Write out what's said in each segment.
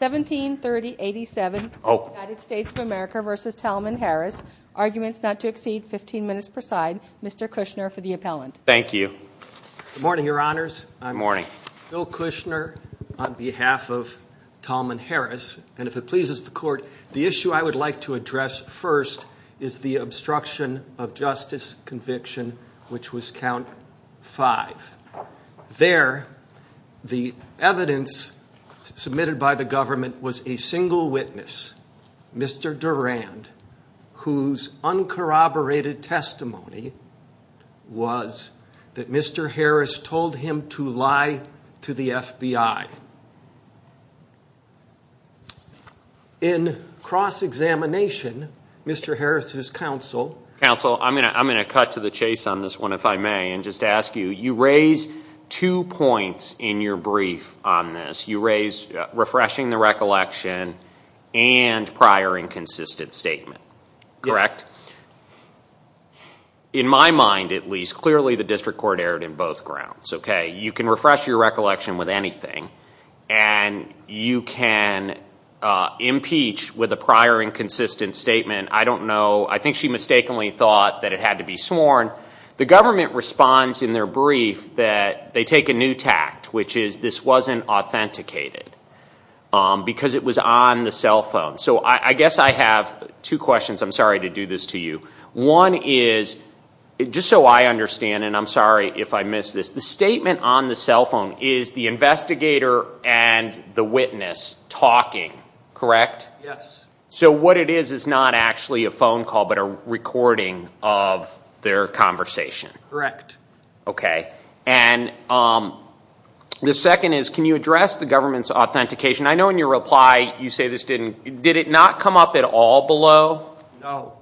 173087 United States of America v. Talman Harris, arguments not to exceed 15 minutes per side. Mr. Kushner for the appellant. Thank you. Good morning, your honors. I'm Phil Kushner on behalf of Talman Harris. And if it pleases the court, the issue I would like to address first is the obstruction of justice conviction, which was count five. There, the evidence submitted by the government was a single witness, Mr. Durand, whose uncorroborated testimony was that Mr. Harris told him to lie to the FBI. In cross-examination, Mr. Harris's counsel. Counsel, I'm going to cut to the chase on this one, if I may, and just ask you, you raise two points in your brief on this. You raise refreshing the recollection and prior inconsistent statement, correct? In my mind, at least, clearly the district court erred in both grounds, OK? You can refresh your recollection with anything, and you can impeach with a prior inconsistent statement. I don't know. I think she mistakenly thought that it had to be sworn. The government responds in their brief that they take a new tact, which is this wasn't authenticated, because it was on the cell phone. So I guess I have two questions. I'm sorry to do this to you. One is, just so I understand, and I'm sorry if I miss this, the statement on the cell phone is the investigator and the witness talking, correct? Yes. So what it is is not actually a phone call, but a recording of their conversation. Correct. OK. And the second is, can you address the government's authentication? I know in your reply, you say this didn't, did it not come up at all below? No.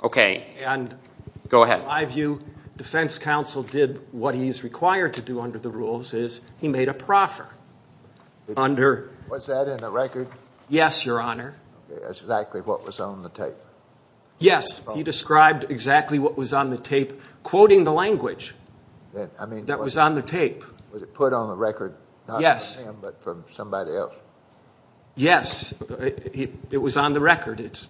OK. And, in my view, defense counsel did what he is required to do under the rules, is he made a proffer under. Was that in the record? Yes, Your Honor. That's exactly what was on the tape. Yes, he described exactly what was on the tape, quoting the language that was on the tape. Was it put on the record, not from him, but from somebody else? Yes, it was on the record. It's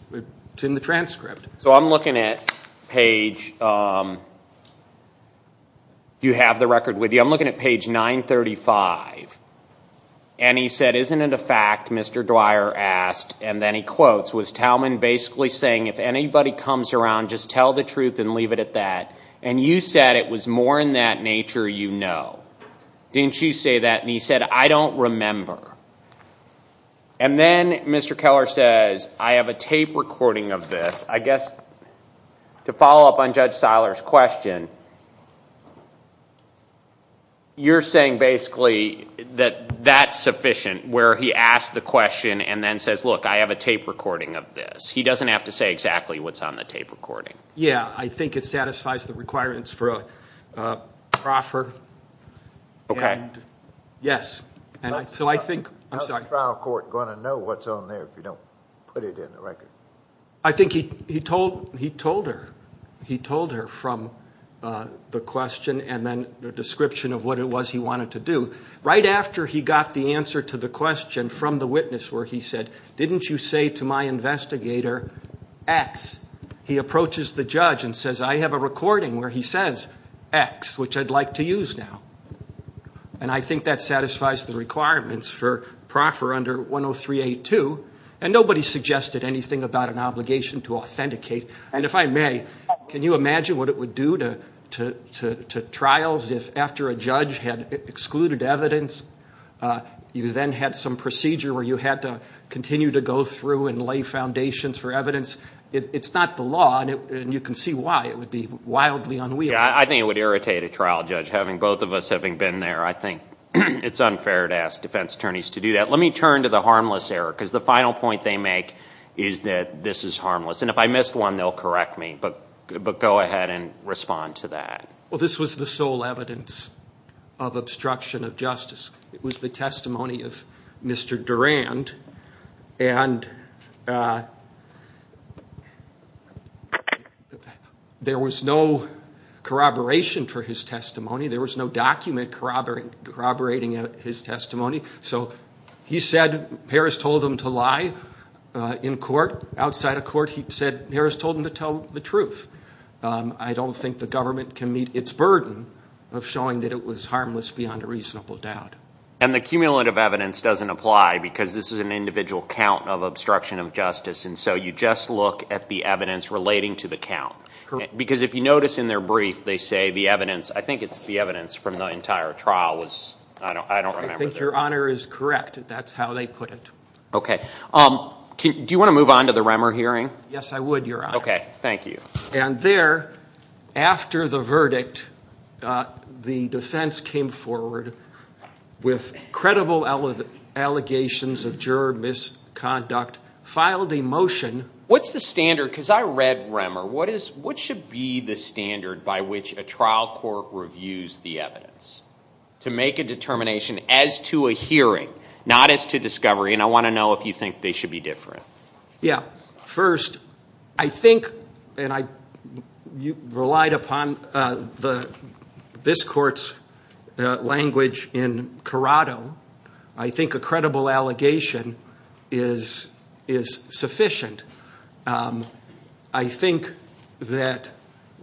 in the transcript. So I'm looking at page, do you have the record with you? I'm looking at page 935. And he said, isn't it a fact, Mr. Dwyer asked, and then he quotes, was Talman basically saying, if anybody comes around, just tell the truth and leave it at that. And you said it was more in that nature you know. Didn't you say that? And he said, I don't remember. And then Mr. Keller says, I have a tape recording of this. I guess to follow up on Judge Seiler's question, you're saying basically that that's sufficient, where he asked the question and then says, look, I have a tape recording of this. He doesn't have to say exactly what's on the tape recording. Yeah, I think it satisfies the requirements for a proffer. OK. Yes. So I think, I'm sorry. How's a trial court going to know what's on there if you don't put it in the record? I think he told her. He told her from the question and then the description of what it was he wanted to do. Right after he got the answer to the question from the witness where he said, didn't you say to my investigator X, he approaches the judge and says, I have a recording where he says X, which I'd like to use now. And I think that satisfies the requirements for proffer under 103.82. And nobody suggested anything about an obligation to authenticate. And if I may, can you imagine what it would do to trials if after a judge had excluded evidence, you then had some procedure where you had to continue to go through and lay foundations for evidence? It's not the law, and you can see why. It would be wildly unwieldy. I think it would irritate a trial judge, having both of us having been there. I think it's unfair to ask defense attorneys to do that. Let me turn to the harmless error, because the final point they make is that this is harmless. And if I missed one, they'll correct me. But go ahead and respond to that. Well, this was the sole evidence of obstruction of justice. It was the testimony of Mr. Durand. And there was no corroboration for his testimony. There was no document corroborating his testimony. So he said Harris told him to lie in court, outside of court. He said Harris told him to tell the truth. I don't think the government can meet its burden of showing that it was And the cumulative evidence doesn't apply, because this is an individual count of obstruction of justice. And so you just look at the evidence relating to the count. Because if you notice in their brief, they say the evidence, I think it's the evidence from the entire trial was, I don't remember. I think your honor is correct. That's how they put it. OK. Do you want to move on to the Remmer hearing? Yes, I would, your honor. OK, thank you. And there, after the verdict, the defense came forward with credible allegations of juror misconduct, filed a motion. What's the standard? Because I read Remmer. What should be the standard by which a trial court reviews the evidence? To make a determination as to a hearing, not as to discovery. And I want to know if you think they should be different. Yeah. First, I think, and I relied upon this court's language in Corrado, I think a credible allegation is sufficient. I think that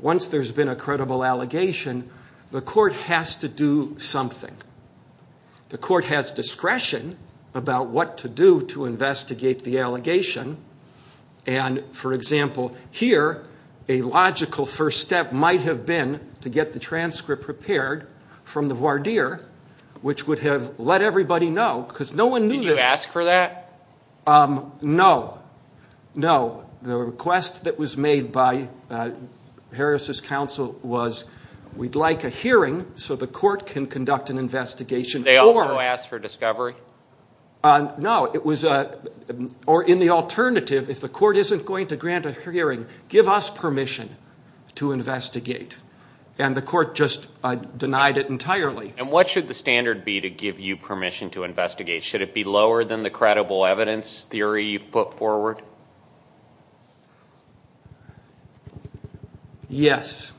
once there's been a credible allegation, the court has to do something. The court has discretion about what to do to investigate the allegation. And for example, here, a logical first step might have been to get the transcript prepared from the voir dire, which would have let everybody know. Because no one knew this. Did you ask for that? No. No. The request that was made by Harris's counsel was, we'd like a hearing so the court can conduct an investigation. Did they also ask for discovery? No. It was, or in the alternative, if the court isn't going to grant a hearing, give us permission to investigate. And the court just denied it entirely. And what should the standard be to give you permission to investigate? Should it be lower than the credible evidence theory you've put forward? Yes.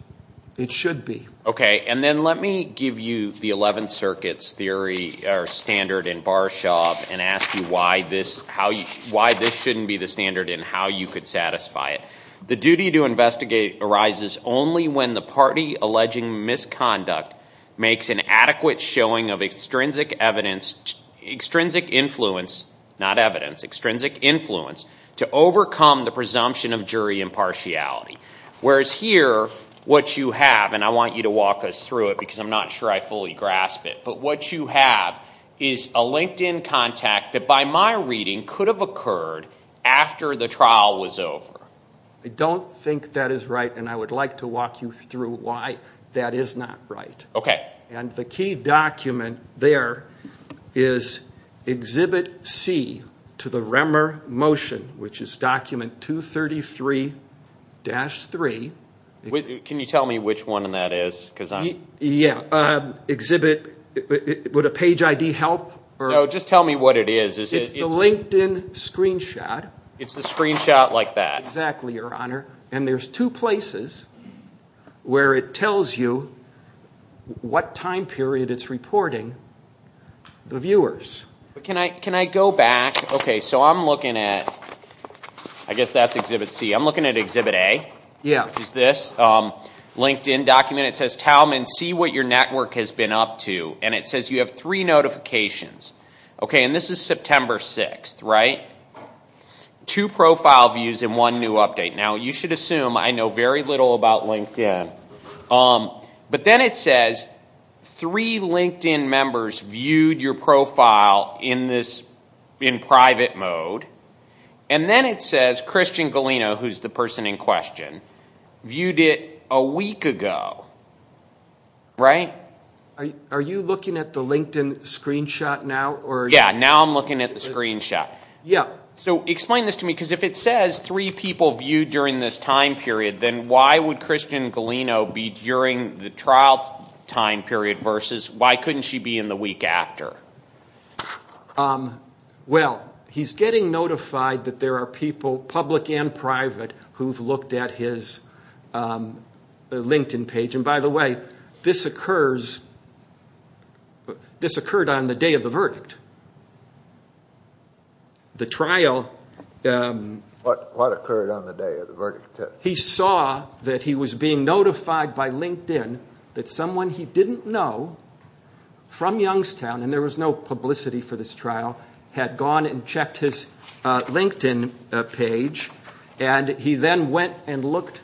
It should be. OK. And then let me give you the 11 circuits theory, standard in Barshov, and ask you why this shouldn't be the standard and how you could satisfy it. The duty to investigate arises only when the party alleging misconduct makes an adequate showing of extrinsic influence, not evidence, extrinsic influence, to overcome the presumption of jury impartiality. Whereas here, what you have, and I want you to walk us through it because I'm not sure I fully grasp it. But what you have is a LinkedIn contact that by my reading could have occurred after the trial was over. I don't think that is right. And I would like to walk you through why that is not right. OK. And the key document there is exhibit C to the Remmer motion, which is document 233-3. Can you tell me which one that is? Yeah. Exhibit, would a page ID help? Just tell me what it is. It's the LinkedIn screenshot. It's the screenshot like that. Exactly, Your Honor. And there's two places where it tells you what time period it's reporting the viewers. Can I go back? OK, so I'm looking at, I guess that's exhibit C. I'm looking at exhibit A, which is this LinkedIn document. And it says, Talman, see what your network has been up to. And it says you have three notifications. OK, and this is September 6, right? Two profile views and one new update. Now, you should assume I know very little about LinkedIn. But then it says three LinkedIn members viewed your profile in private mode. And then it says Christian Galeno, who's the person in question, viewed it a week ago, right? Are you looking at the LinkedIn screenshot now? Yeah, now I'm looking at the screenshot. So explain this to me. Because if it says three people viewed during this time period, then why would Christian Galeno be during the trial time period versus why couldn't she be in the week after? Well, he's getting notified that there are people in private who've looked at his LinkedIn page. And by the way, this occurred on the day of the verdict. The trial. What occurred on the day of the verdict? He saw that he was being notified by LinkedIn that someone he didn't know from Youngstown, and there was no publicity for this trial, had gone and checked his LinkedIn page. And he then went and looked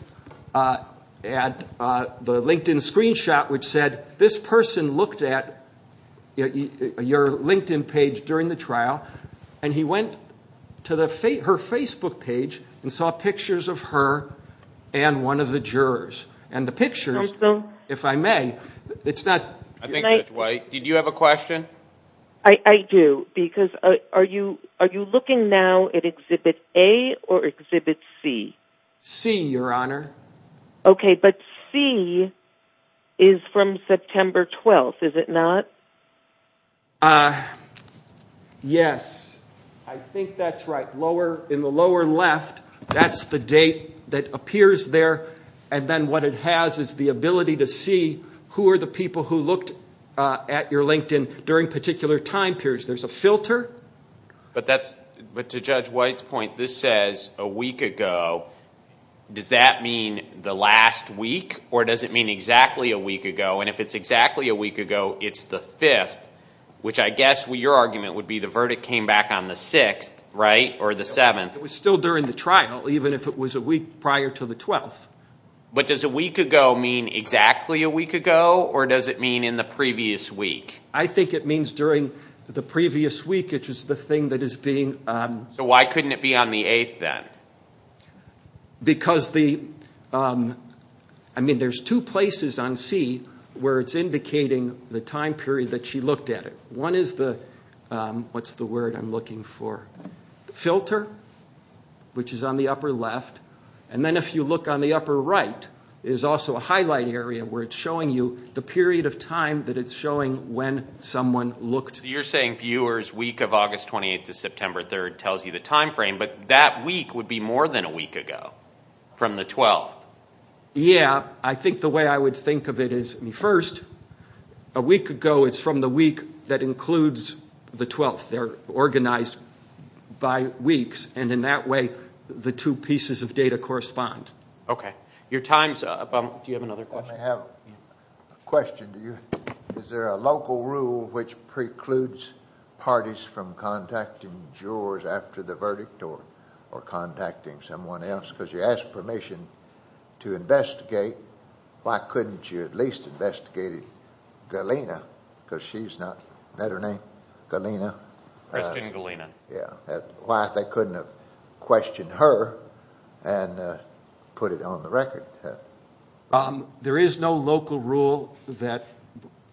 at the LinkedIn screenshot, which said, this person looked at your LinkedIn page during the trial. And he went to her Facebook page and saw pictures of her and one of the jurors. And the pictures, if I may, it's not. I think that's right. Did you have a question? I do, because are you looking now at Exhibit A or Exhibit C? C, Your Honor. OK, but C is from September 12th, is it not? Yes. I think that's right. In the lower left, that's the date that appears there. And then what it has is the ability to see who are the people who looked at your LinkedIn during particular time periods. There's a filter. But to Judge White's point, this says a week ago. Does that mean the last week, or does it mean exactly a week ago? And if it's exactly a week ago, it's the fifth, which I guess your argument would be the verdict came back on the sixth, right, or the seventh. It was still during the trial, even if it was a week prior to the 12th. But does a week ago mean exactly a week ago, or does it mean in the previous week? I think it means during the previous week, which is the thing that is being. So why couldn't it be on the eighth then? Because the, I mean, there's two places on C where it's indicating the time period that she looked at it. One is the, what's the word I'm looking for, filter, which is on the upper left. And then if you look on the upper right, is also a highlight area where it's showing you the period of time that it's showing when someone looked. You're saying viewers week of August 28 to September 3 tells you the time frame, but that week would be more than a week ago from the 12th. Yeah. I think the way I would think of it is, first, a week ago, it's from the week that includes the 12th. They're organized by weeks. And in that way, the two pieces of data correspond. OK. Your time's up. Do you have another question? I have a question. Is there a local rule which precludes parties from contacting jurors after the verdict or contacting someone else? Because you asked permission to investigate. Why couldn't you at least investigate Galena? Because she's not, better name, Galena. Christian Galena. Yeah. Why they couldn't have questioned her and put it on the record? There is no local rule that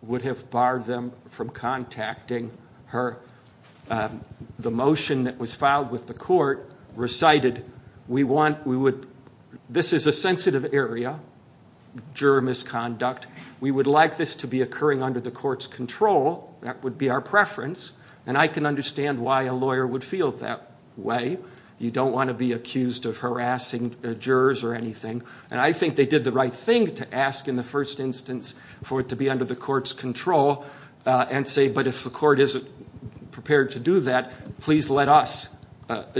would have barred them from contacting her. The motion that was filed with the court recited, this is a sensitive area, juror misconduct. We would like this to be occurring under the court's control. That would be our preference. And I can understand why a lawyer would feel that way. You don't want to be accused of harassing jurors or anything. And I think they did the right thing to ask in the first instance for it to be under the court's control and say, but if the court isn't prepared to do that, please let us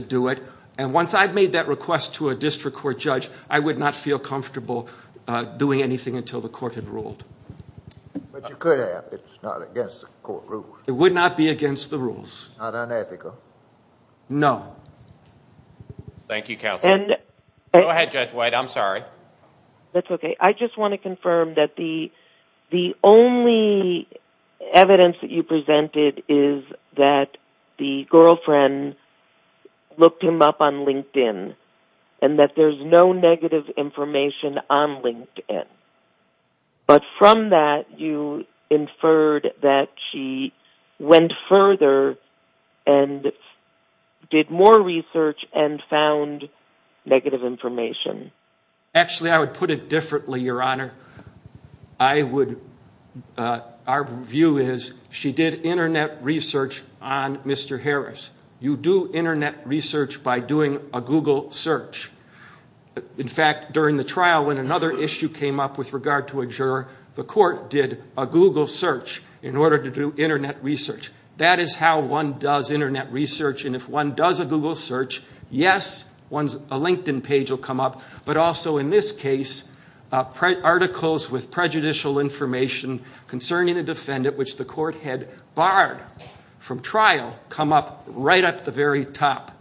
do it. And once I've made that request to a district court judge, I would not feel comfortable doing anything until the court had ruled. But you could have. It's not against the court rules. It would not be against the rules. Not unethical. No. Thank you, counsel. Go ahead, Judge White. I'm sorry. That's OK. I just want to confirm that the only evidence that you presented is that the girlfriend looked him up on LinkedIn and that there's no negative information on LinkedIn. But from that, you inferred that she went further and did more research and found negative information. Actually, I would put it differently, Your Honor. Our view is she did internet research on Mr. Harris. You do internet research by doing a Google search. In fact, during the trial, when another issue came up with regard to a juror, the court did a Google search in order to do internet research. That is how one does internet research. And if one does a Google search, yes, a LinkedIn page will come up. But also in this case, articles with prejudicial information concerning the defendant, which the court had barred from trial, come up right at the very top.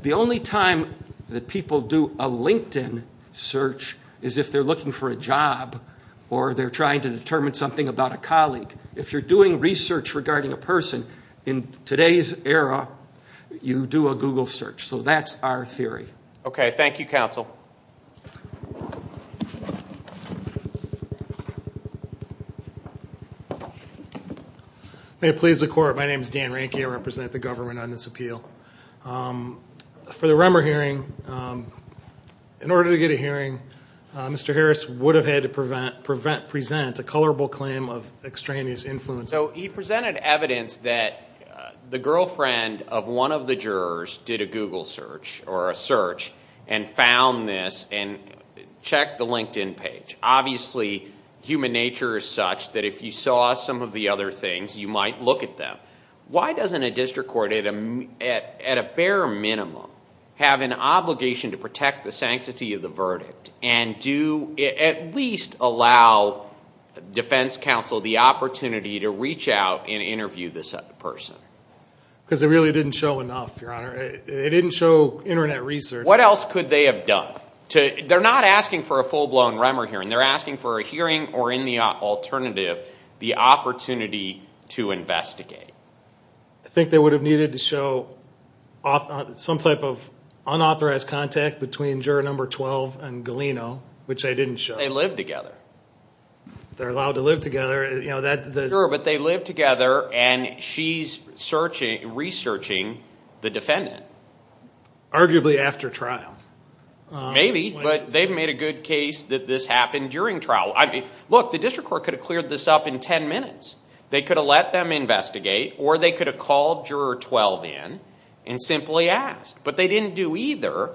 The only time that people do a LinkedIn search is if they're looking for a job or they're trying to determine something about a colleague. If you're doing research regarding a person in today's era, you do a Google search. So that's our theory. OK, thank you, counsel. May it please the court, my name is Dan Ranke. I represent the government on this appeal. For the Remmer hearing, in order to get a hearing, Mr. Harris would have had to present a colorable claim of extraneous influence. So he presented evidence that the girlfriend of one of the jurors did a Google search or a search and found this and checked the LinkedIn page. Obviously, human nature is such that if you saw some of the other things, you might look at them. Why doesn't a district court, at a bare minimum, have an obligation to protect the sanctity of the verdict and do at least allow defense counsel the opportunity to reach out and interview this person? Because it really didn't show enough, Your Honor. It didn't show internet research. What else could they have done? They're not asking for a full-blown Remmer hearing. They're asking for a hearing or, in the alternative, the opportunity to investigate. I think they would have needed to show some type of unauthorized contact between juror number 12 and Galeno, which they didn't show. They live together. They're allowed to live together. But they live together, and she's researching the defendant. Arguably after trial. Maybe, but they've made a good case that this happened during trial. Look, the district court could have cleared this up in 10 minutes. They could have let them investigate, or they could have called juror 12 in and simply asked. But they didn't do either.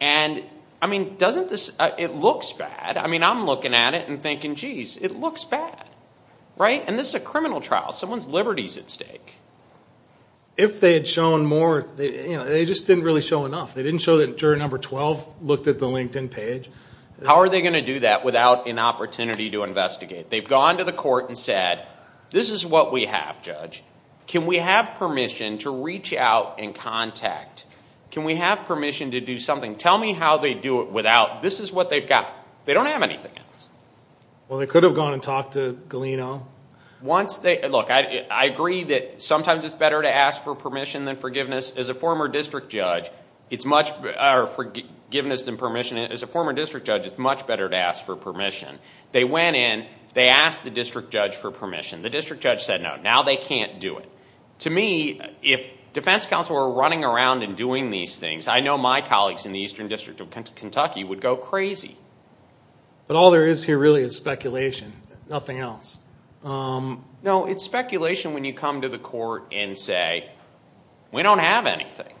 And I mean, it looks bad. I mean, I'm looking at it and thinking, jeez, it looks bad. And this is a criminal trial. Someone's liberty's at stake. If they had shown more, they just didn't really show enough. They didn't show that juror number 12 looked at the LinkedIn page. How are they going to do that without an opportunity to investigate? They've gone to the court and said, this is what we have, Judge. Can we have permission to reach out and contact? Can we have permission to do something? Tell me how they do it without, this is what they've got. They don't have anything else. Well, they could have gone and talked to Galeno. Once they, look, I agree that sometimes it's better to ask for permission than forgiveness. As a former district judge, it's much, or forgiveness than permission, as a former district judge, it's much better to ask for permission. They went in. They asked the district judge for permission. The district judge said no. Now they can't do it. To me, if defense counsel were running around and doing these things, I know my colleagues in the Eastern District of Kentucky would go crazy. But all there is here really is speculation, nothing else. No, it's speculation when you come to the court and say, we don't have anything.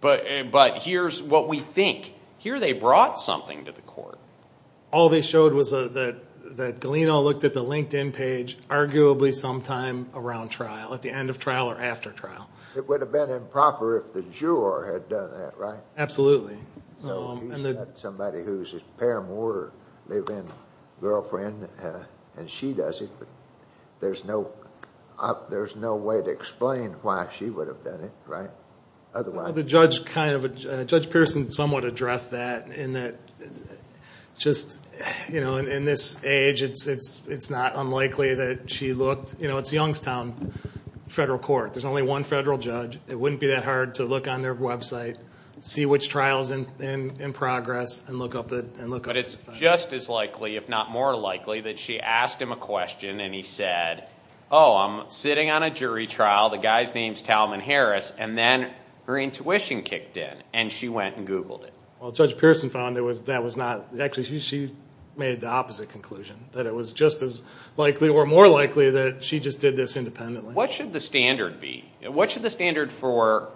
But here's what we think. Here they brought something to the court. All they showed was that Galeno looked at the LinkedIn page, arguably sometime around trial, at the end of trial or after trial. It would have been improper if the juror had done that, right? Absolutely. So he's got somebody who's his paramour, live-in girlfriend, and she does it. There's no way to explain why she would have done it, right? Otherwise. The judge kind of, Judge Pearson somewhat addressed that in that just in this age, it's not unlikely that she looked. You know, it's Youngstown Federal Court. There's only one federal judge. It wouldn't be that hard to look on their website, see which trial's in progress, and look up the facts. But it's just as likely, if not more likely, that she asked him a question and he said, oh, I'm sitting on a jury trial. The guy's name's Talman Harris. And then her intuition kicked in, and she went and Googled it. Well, Judge Pearson found that was not. Actually, she made the opposite conclusion, that it was just as likely or more likely that she just did this independently. What should the standard be? What should the standard for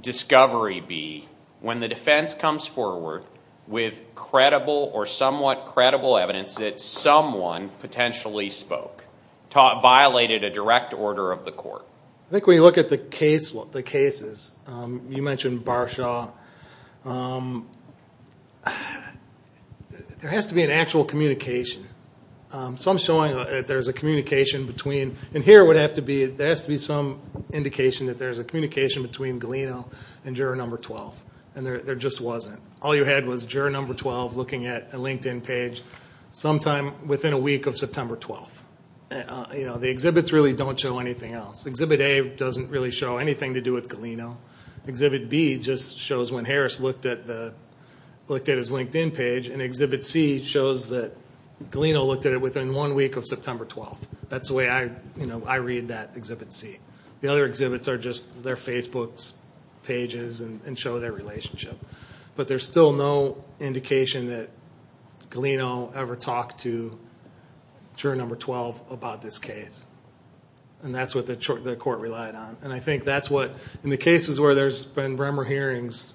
discovery be when the defense comes forward with credible or somewhat credible evidence that someone potentially spoke, violated a direct order of the court? I think when you look at the cases, you mentioned Barshaw, there has to be an actual communication. So I'm showing that there's a communication between, there has to be some indication that there's a communication between Galeno and juror number 12. And there just wasn't. All you had was juror number 12 looking at a LinkedIn page sometime within a week of September 12. The exhibits really don't show anything else. Exhibit A doesn't really show anything to do with Galeno. Exhibit B just shows when Harris looked at his LinkedIn page. And exhibit C shows that Galeno looked at it within one week of September 12. That's the way I read that exhibit C. The other exhibits are just their Facebook pages and show their relationship. But there's still no indication that Galeno ever talked to juror number 12 about this case. And that's what the court relied on. And I think that's what, in the cases where there's been Bremer hearings,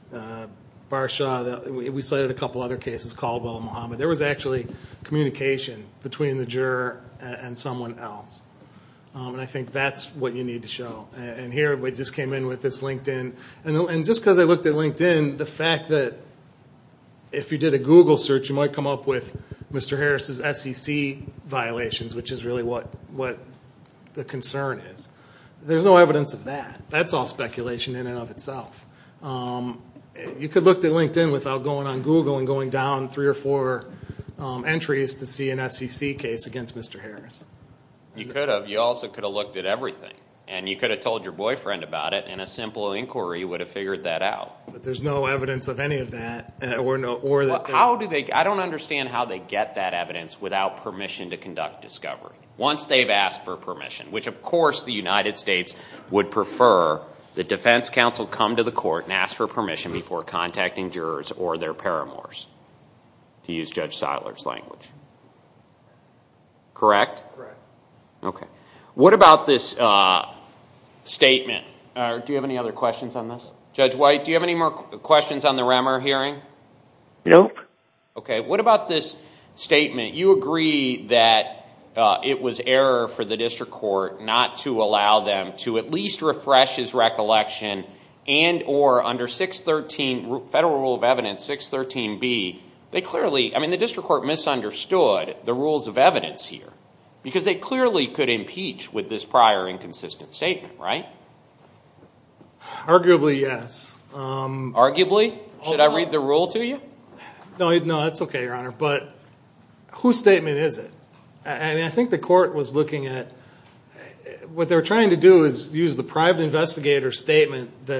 Barshaw, we cited a couple other cases, Caldwell and Muhammad, there was actually communication between the juror and someone else. And I think that's what you need to show. And here, we just came in with this LinkedIn. And just because I looked at LinkedIn, the fact that if you did a Google search, you might come up with Mr. Harris' SEC violations, which is really what the concern is. There's no evidence of that. That's all speculation in and of itself. You could look at LinkedIn without going on Google and going down three or four entries to see an SEC case against Mr. Harris. You could have. You also could have looked at everything. And you could have told your boyfriend about it, and a simple inquiry would have figured that out. But there's no evidence of any of that. I don't understand how they get that evidence without permission to conduct discovery, once they've asked for permission, which, of course, the United States would prefer the defense counsel come to the court and ask for permission before contacting jurors or their paramours, to use Judge Seiler's language. Correct? Correct. OK. What about this statement? Do you have any other questions on this? Judge White, do you have any more questions on the Remmer hearing? No. OK, what about this statement? You agree that it was error for the district court not to allow them to at least refresh his recollection, and or under Federal Rule of Evidence 613B, they clearly, I mean, the district court misunderstood the rules of evidence here. Because they clearly could impeach with this prior inconsistent statement, right? Arguably, yes. Arguably? Should I read the rule to you? No, that's OK, Your Honor. But whose statement is it? I mean, I think the court was looking at, what they're trying to do is use the private investigator statement that the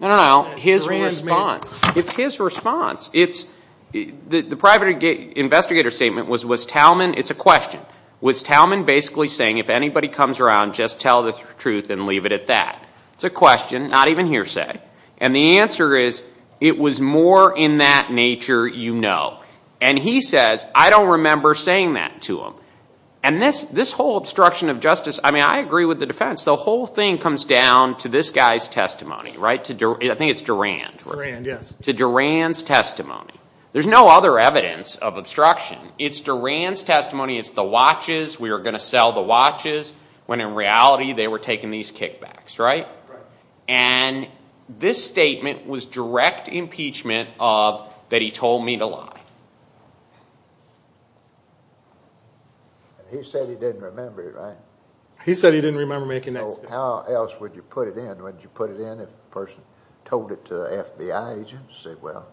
ranch made. No, no, no, his response. It's his response. The private investigator statement was, was Talman, it's a question, was Talman basically saying, if anybody comes around, just tell the truth and leave it at that? It's a question, not even hearsay. And the answer is, it was more in that nature you know. And he says, I don't remember saying that to him. And this whole obstruction of justice, I mean, I agree with the defense. The whole thing comes down to this guy's testimony, right? I think it's Duran. Duran, yes. To Duran's testimony. There's no other evidence of obstruction. It's Duran's testimony. It's the watches. We are going to sell the watches. When in reality, they were taking these kickbacks, right? And this statement was direct impeachment of that he told me to lie. He said he didn't remember it, right? He said he didn't remember making that statement. How else would you put it in? Would you put it in if the person told it to the FBI agent? Say, well,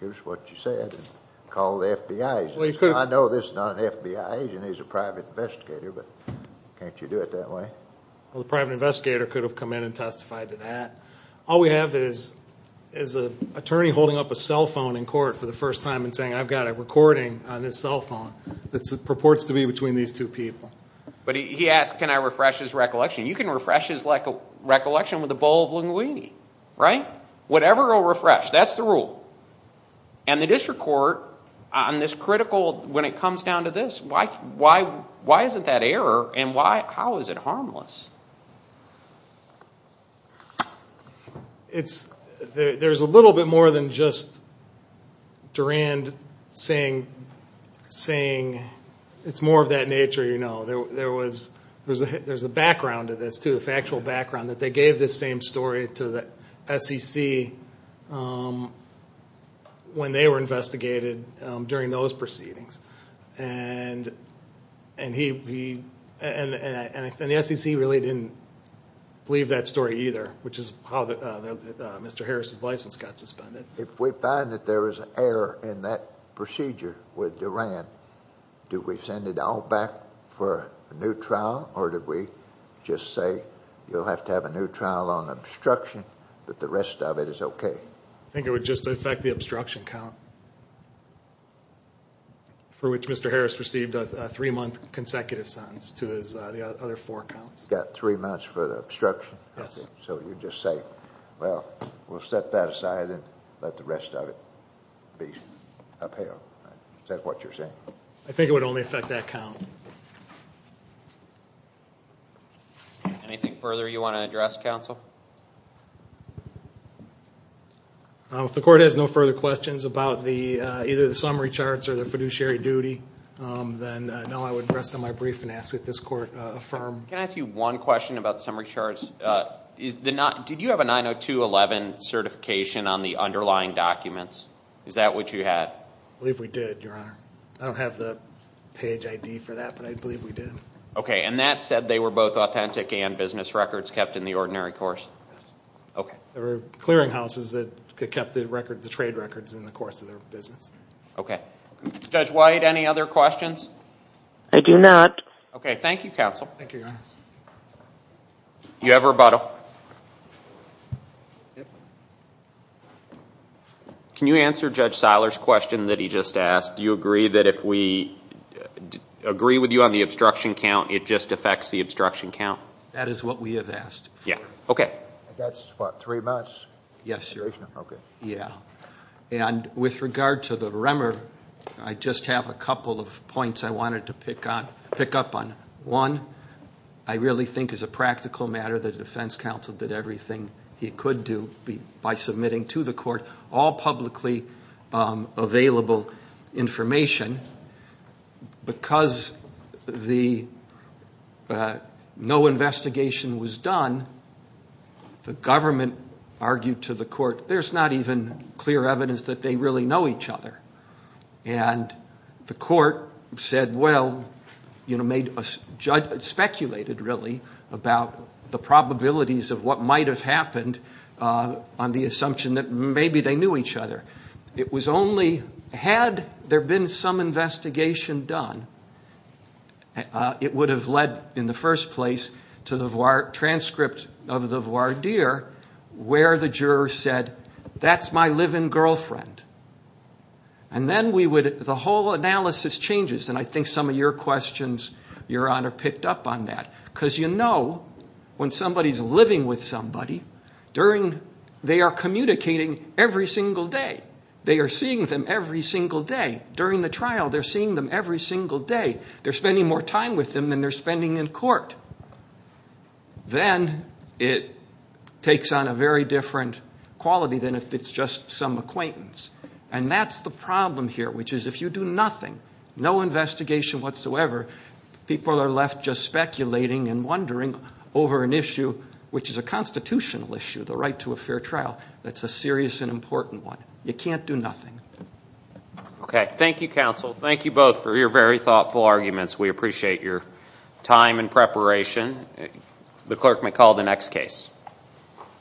here's what you said, and call the FBI agent. I know this is not an FBI agent, he's a private investigator, but can't you do it that way? Well, the private investigator could have come in and testified to that. All we have is an attorney holding up a cell phone in court for the first time and saying, I've got a recording on this cell phone that purports to be between these two people. But he asked, can I refresh his recollection? You can refresh his recollection with a bowl of linguine, right? Whatever will refresh. That's the rule. And the district court, on this critical, when it comes down to this, why isn't that error? And how is it harmless? There's a little bit more than just Rand saying, it's more of that nature, you know. There's a background to this, too, a factual background, that they gave this same story to the SEC when they were investigated during those proceedings. And the SEC really didn't believe that story either, which is how Mr. Harris' license got suspended. If we find that there is an error in that procedure with Durand, do we send it all back for a new trial? Or did we just say, you'll have to have a new trial on obstruction, but the rest of it is OK? I think it would just affect the obstruction count, for which Mr. Harris received a three-month consecutive sentence to his other four counts. Got three months for the obstruction? Yes. So you just say, well, we'll set that aside and let the rest of it be upheld. Is that what you're saying? I think it would only affect that count. Anything further you want to address, counsel? If the court has no further questions about either the summary charts or the fiduciary duty, then no, I would rest on my brief and ask that this court affirm. Can I ask you one question about the summary charts? Did you have a 902.11 certification on the underlying documents? Is that what you had? I believe we did, Your Honor. I don't have the page ID for that, but I believe we did. OK, and that said they were both authentic and business records kept in the ordinary course? OK. They were clearinghouses that kept the trade records in the course of their business. OK. I do not. OK, thank you, counsel. Thank you, Your Honor. Do you have a rebuttal? Can you answer Judge Seiler's question that he just asked? Do you agree that if we agree with you on the obstruction count, it just affects the obstruction count? That is what we have asked. Yeah, OK. That's what, three months? Yes, Your Honor. Yeah, and with regard to the Remmer, I just have a couple of points I wanted to pick up on. One, I really think as a practical matter that the defense counsel did everything he could do by submitting to the court all publicly available information. Because no investigation was done, the government argued to the court, there's not even clear evidence that they really know each other. And the court said, well, speculated really about the probabilities of what might have happened on the assumption that maybe they knew each other. It was only, had there been some investigation done, it would have led in the first place to the transcript of the voir dire where the juror said, that's my live-in girlfriend. And then we would, the whole analysis changes. And I think some of your questions, Your Honor, picked up on that. Because you know, when somebody is living with somebody, during, they are communicating every single day. They are seeing them every single day. During the trial, they're seeing them every single day. They're spending more time with them than they're spending in court. Then it takes on a very different quality than if it's just some acquaintance. And that's the problem here, which is if you do nothing, no investigation whatsoever, people are left just speculating and wondering over an issue which is a constitutional issue, the right to a fair trial. That's a serious and important one. You can't do nothing. OK, thank you, counsel. Thank you both for your very thoughtful arguments. We appreciate your time and preparation. The clerk may call the next case.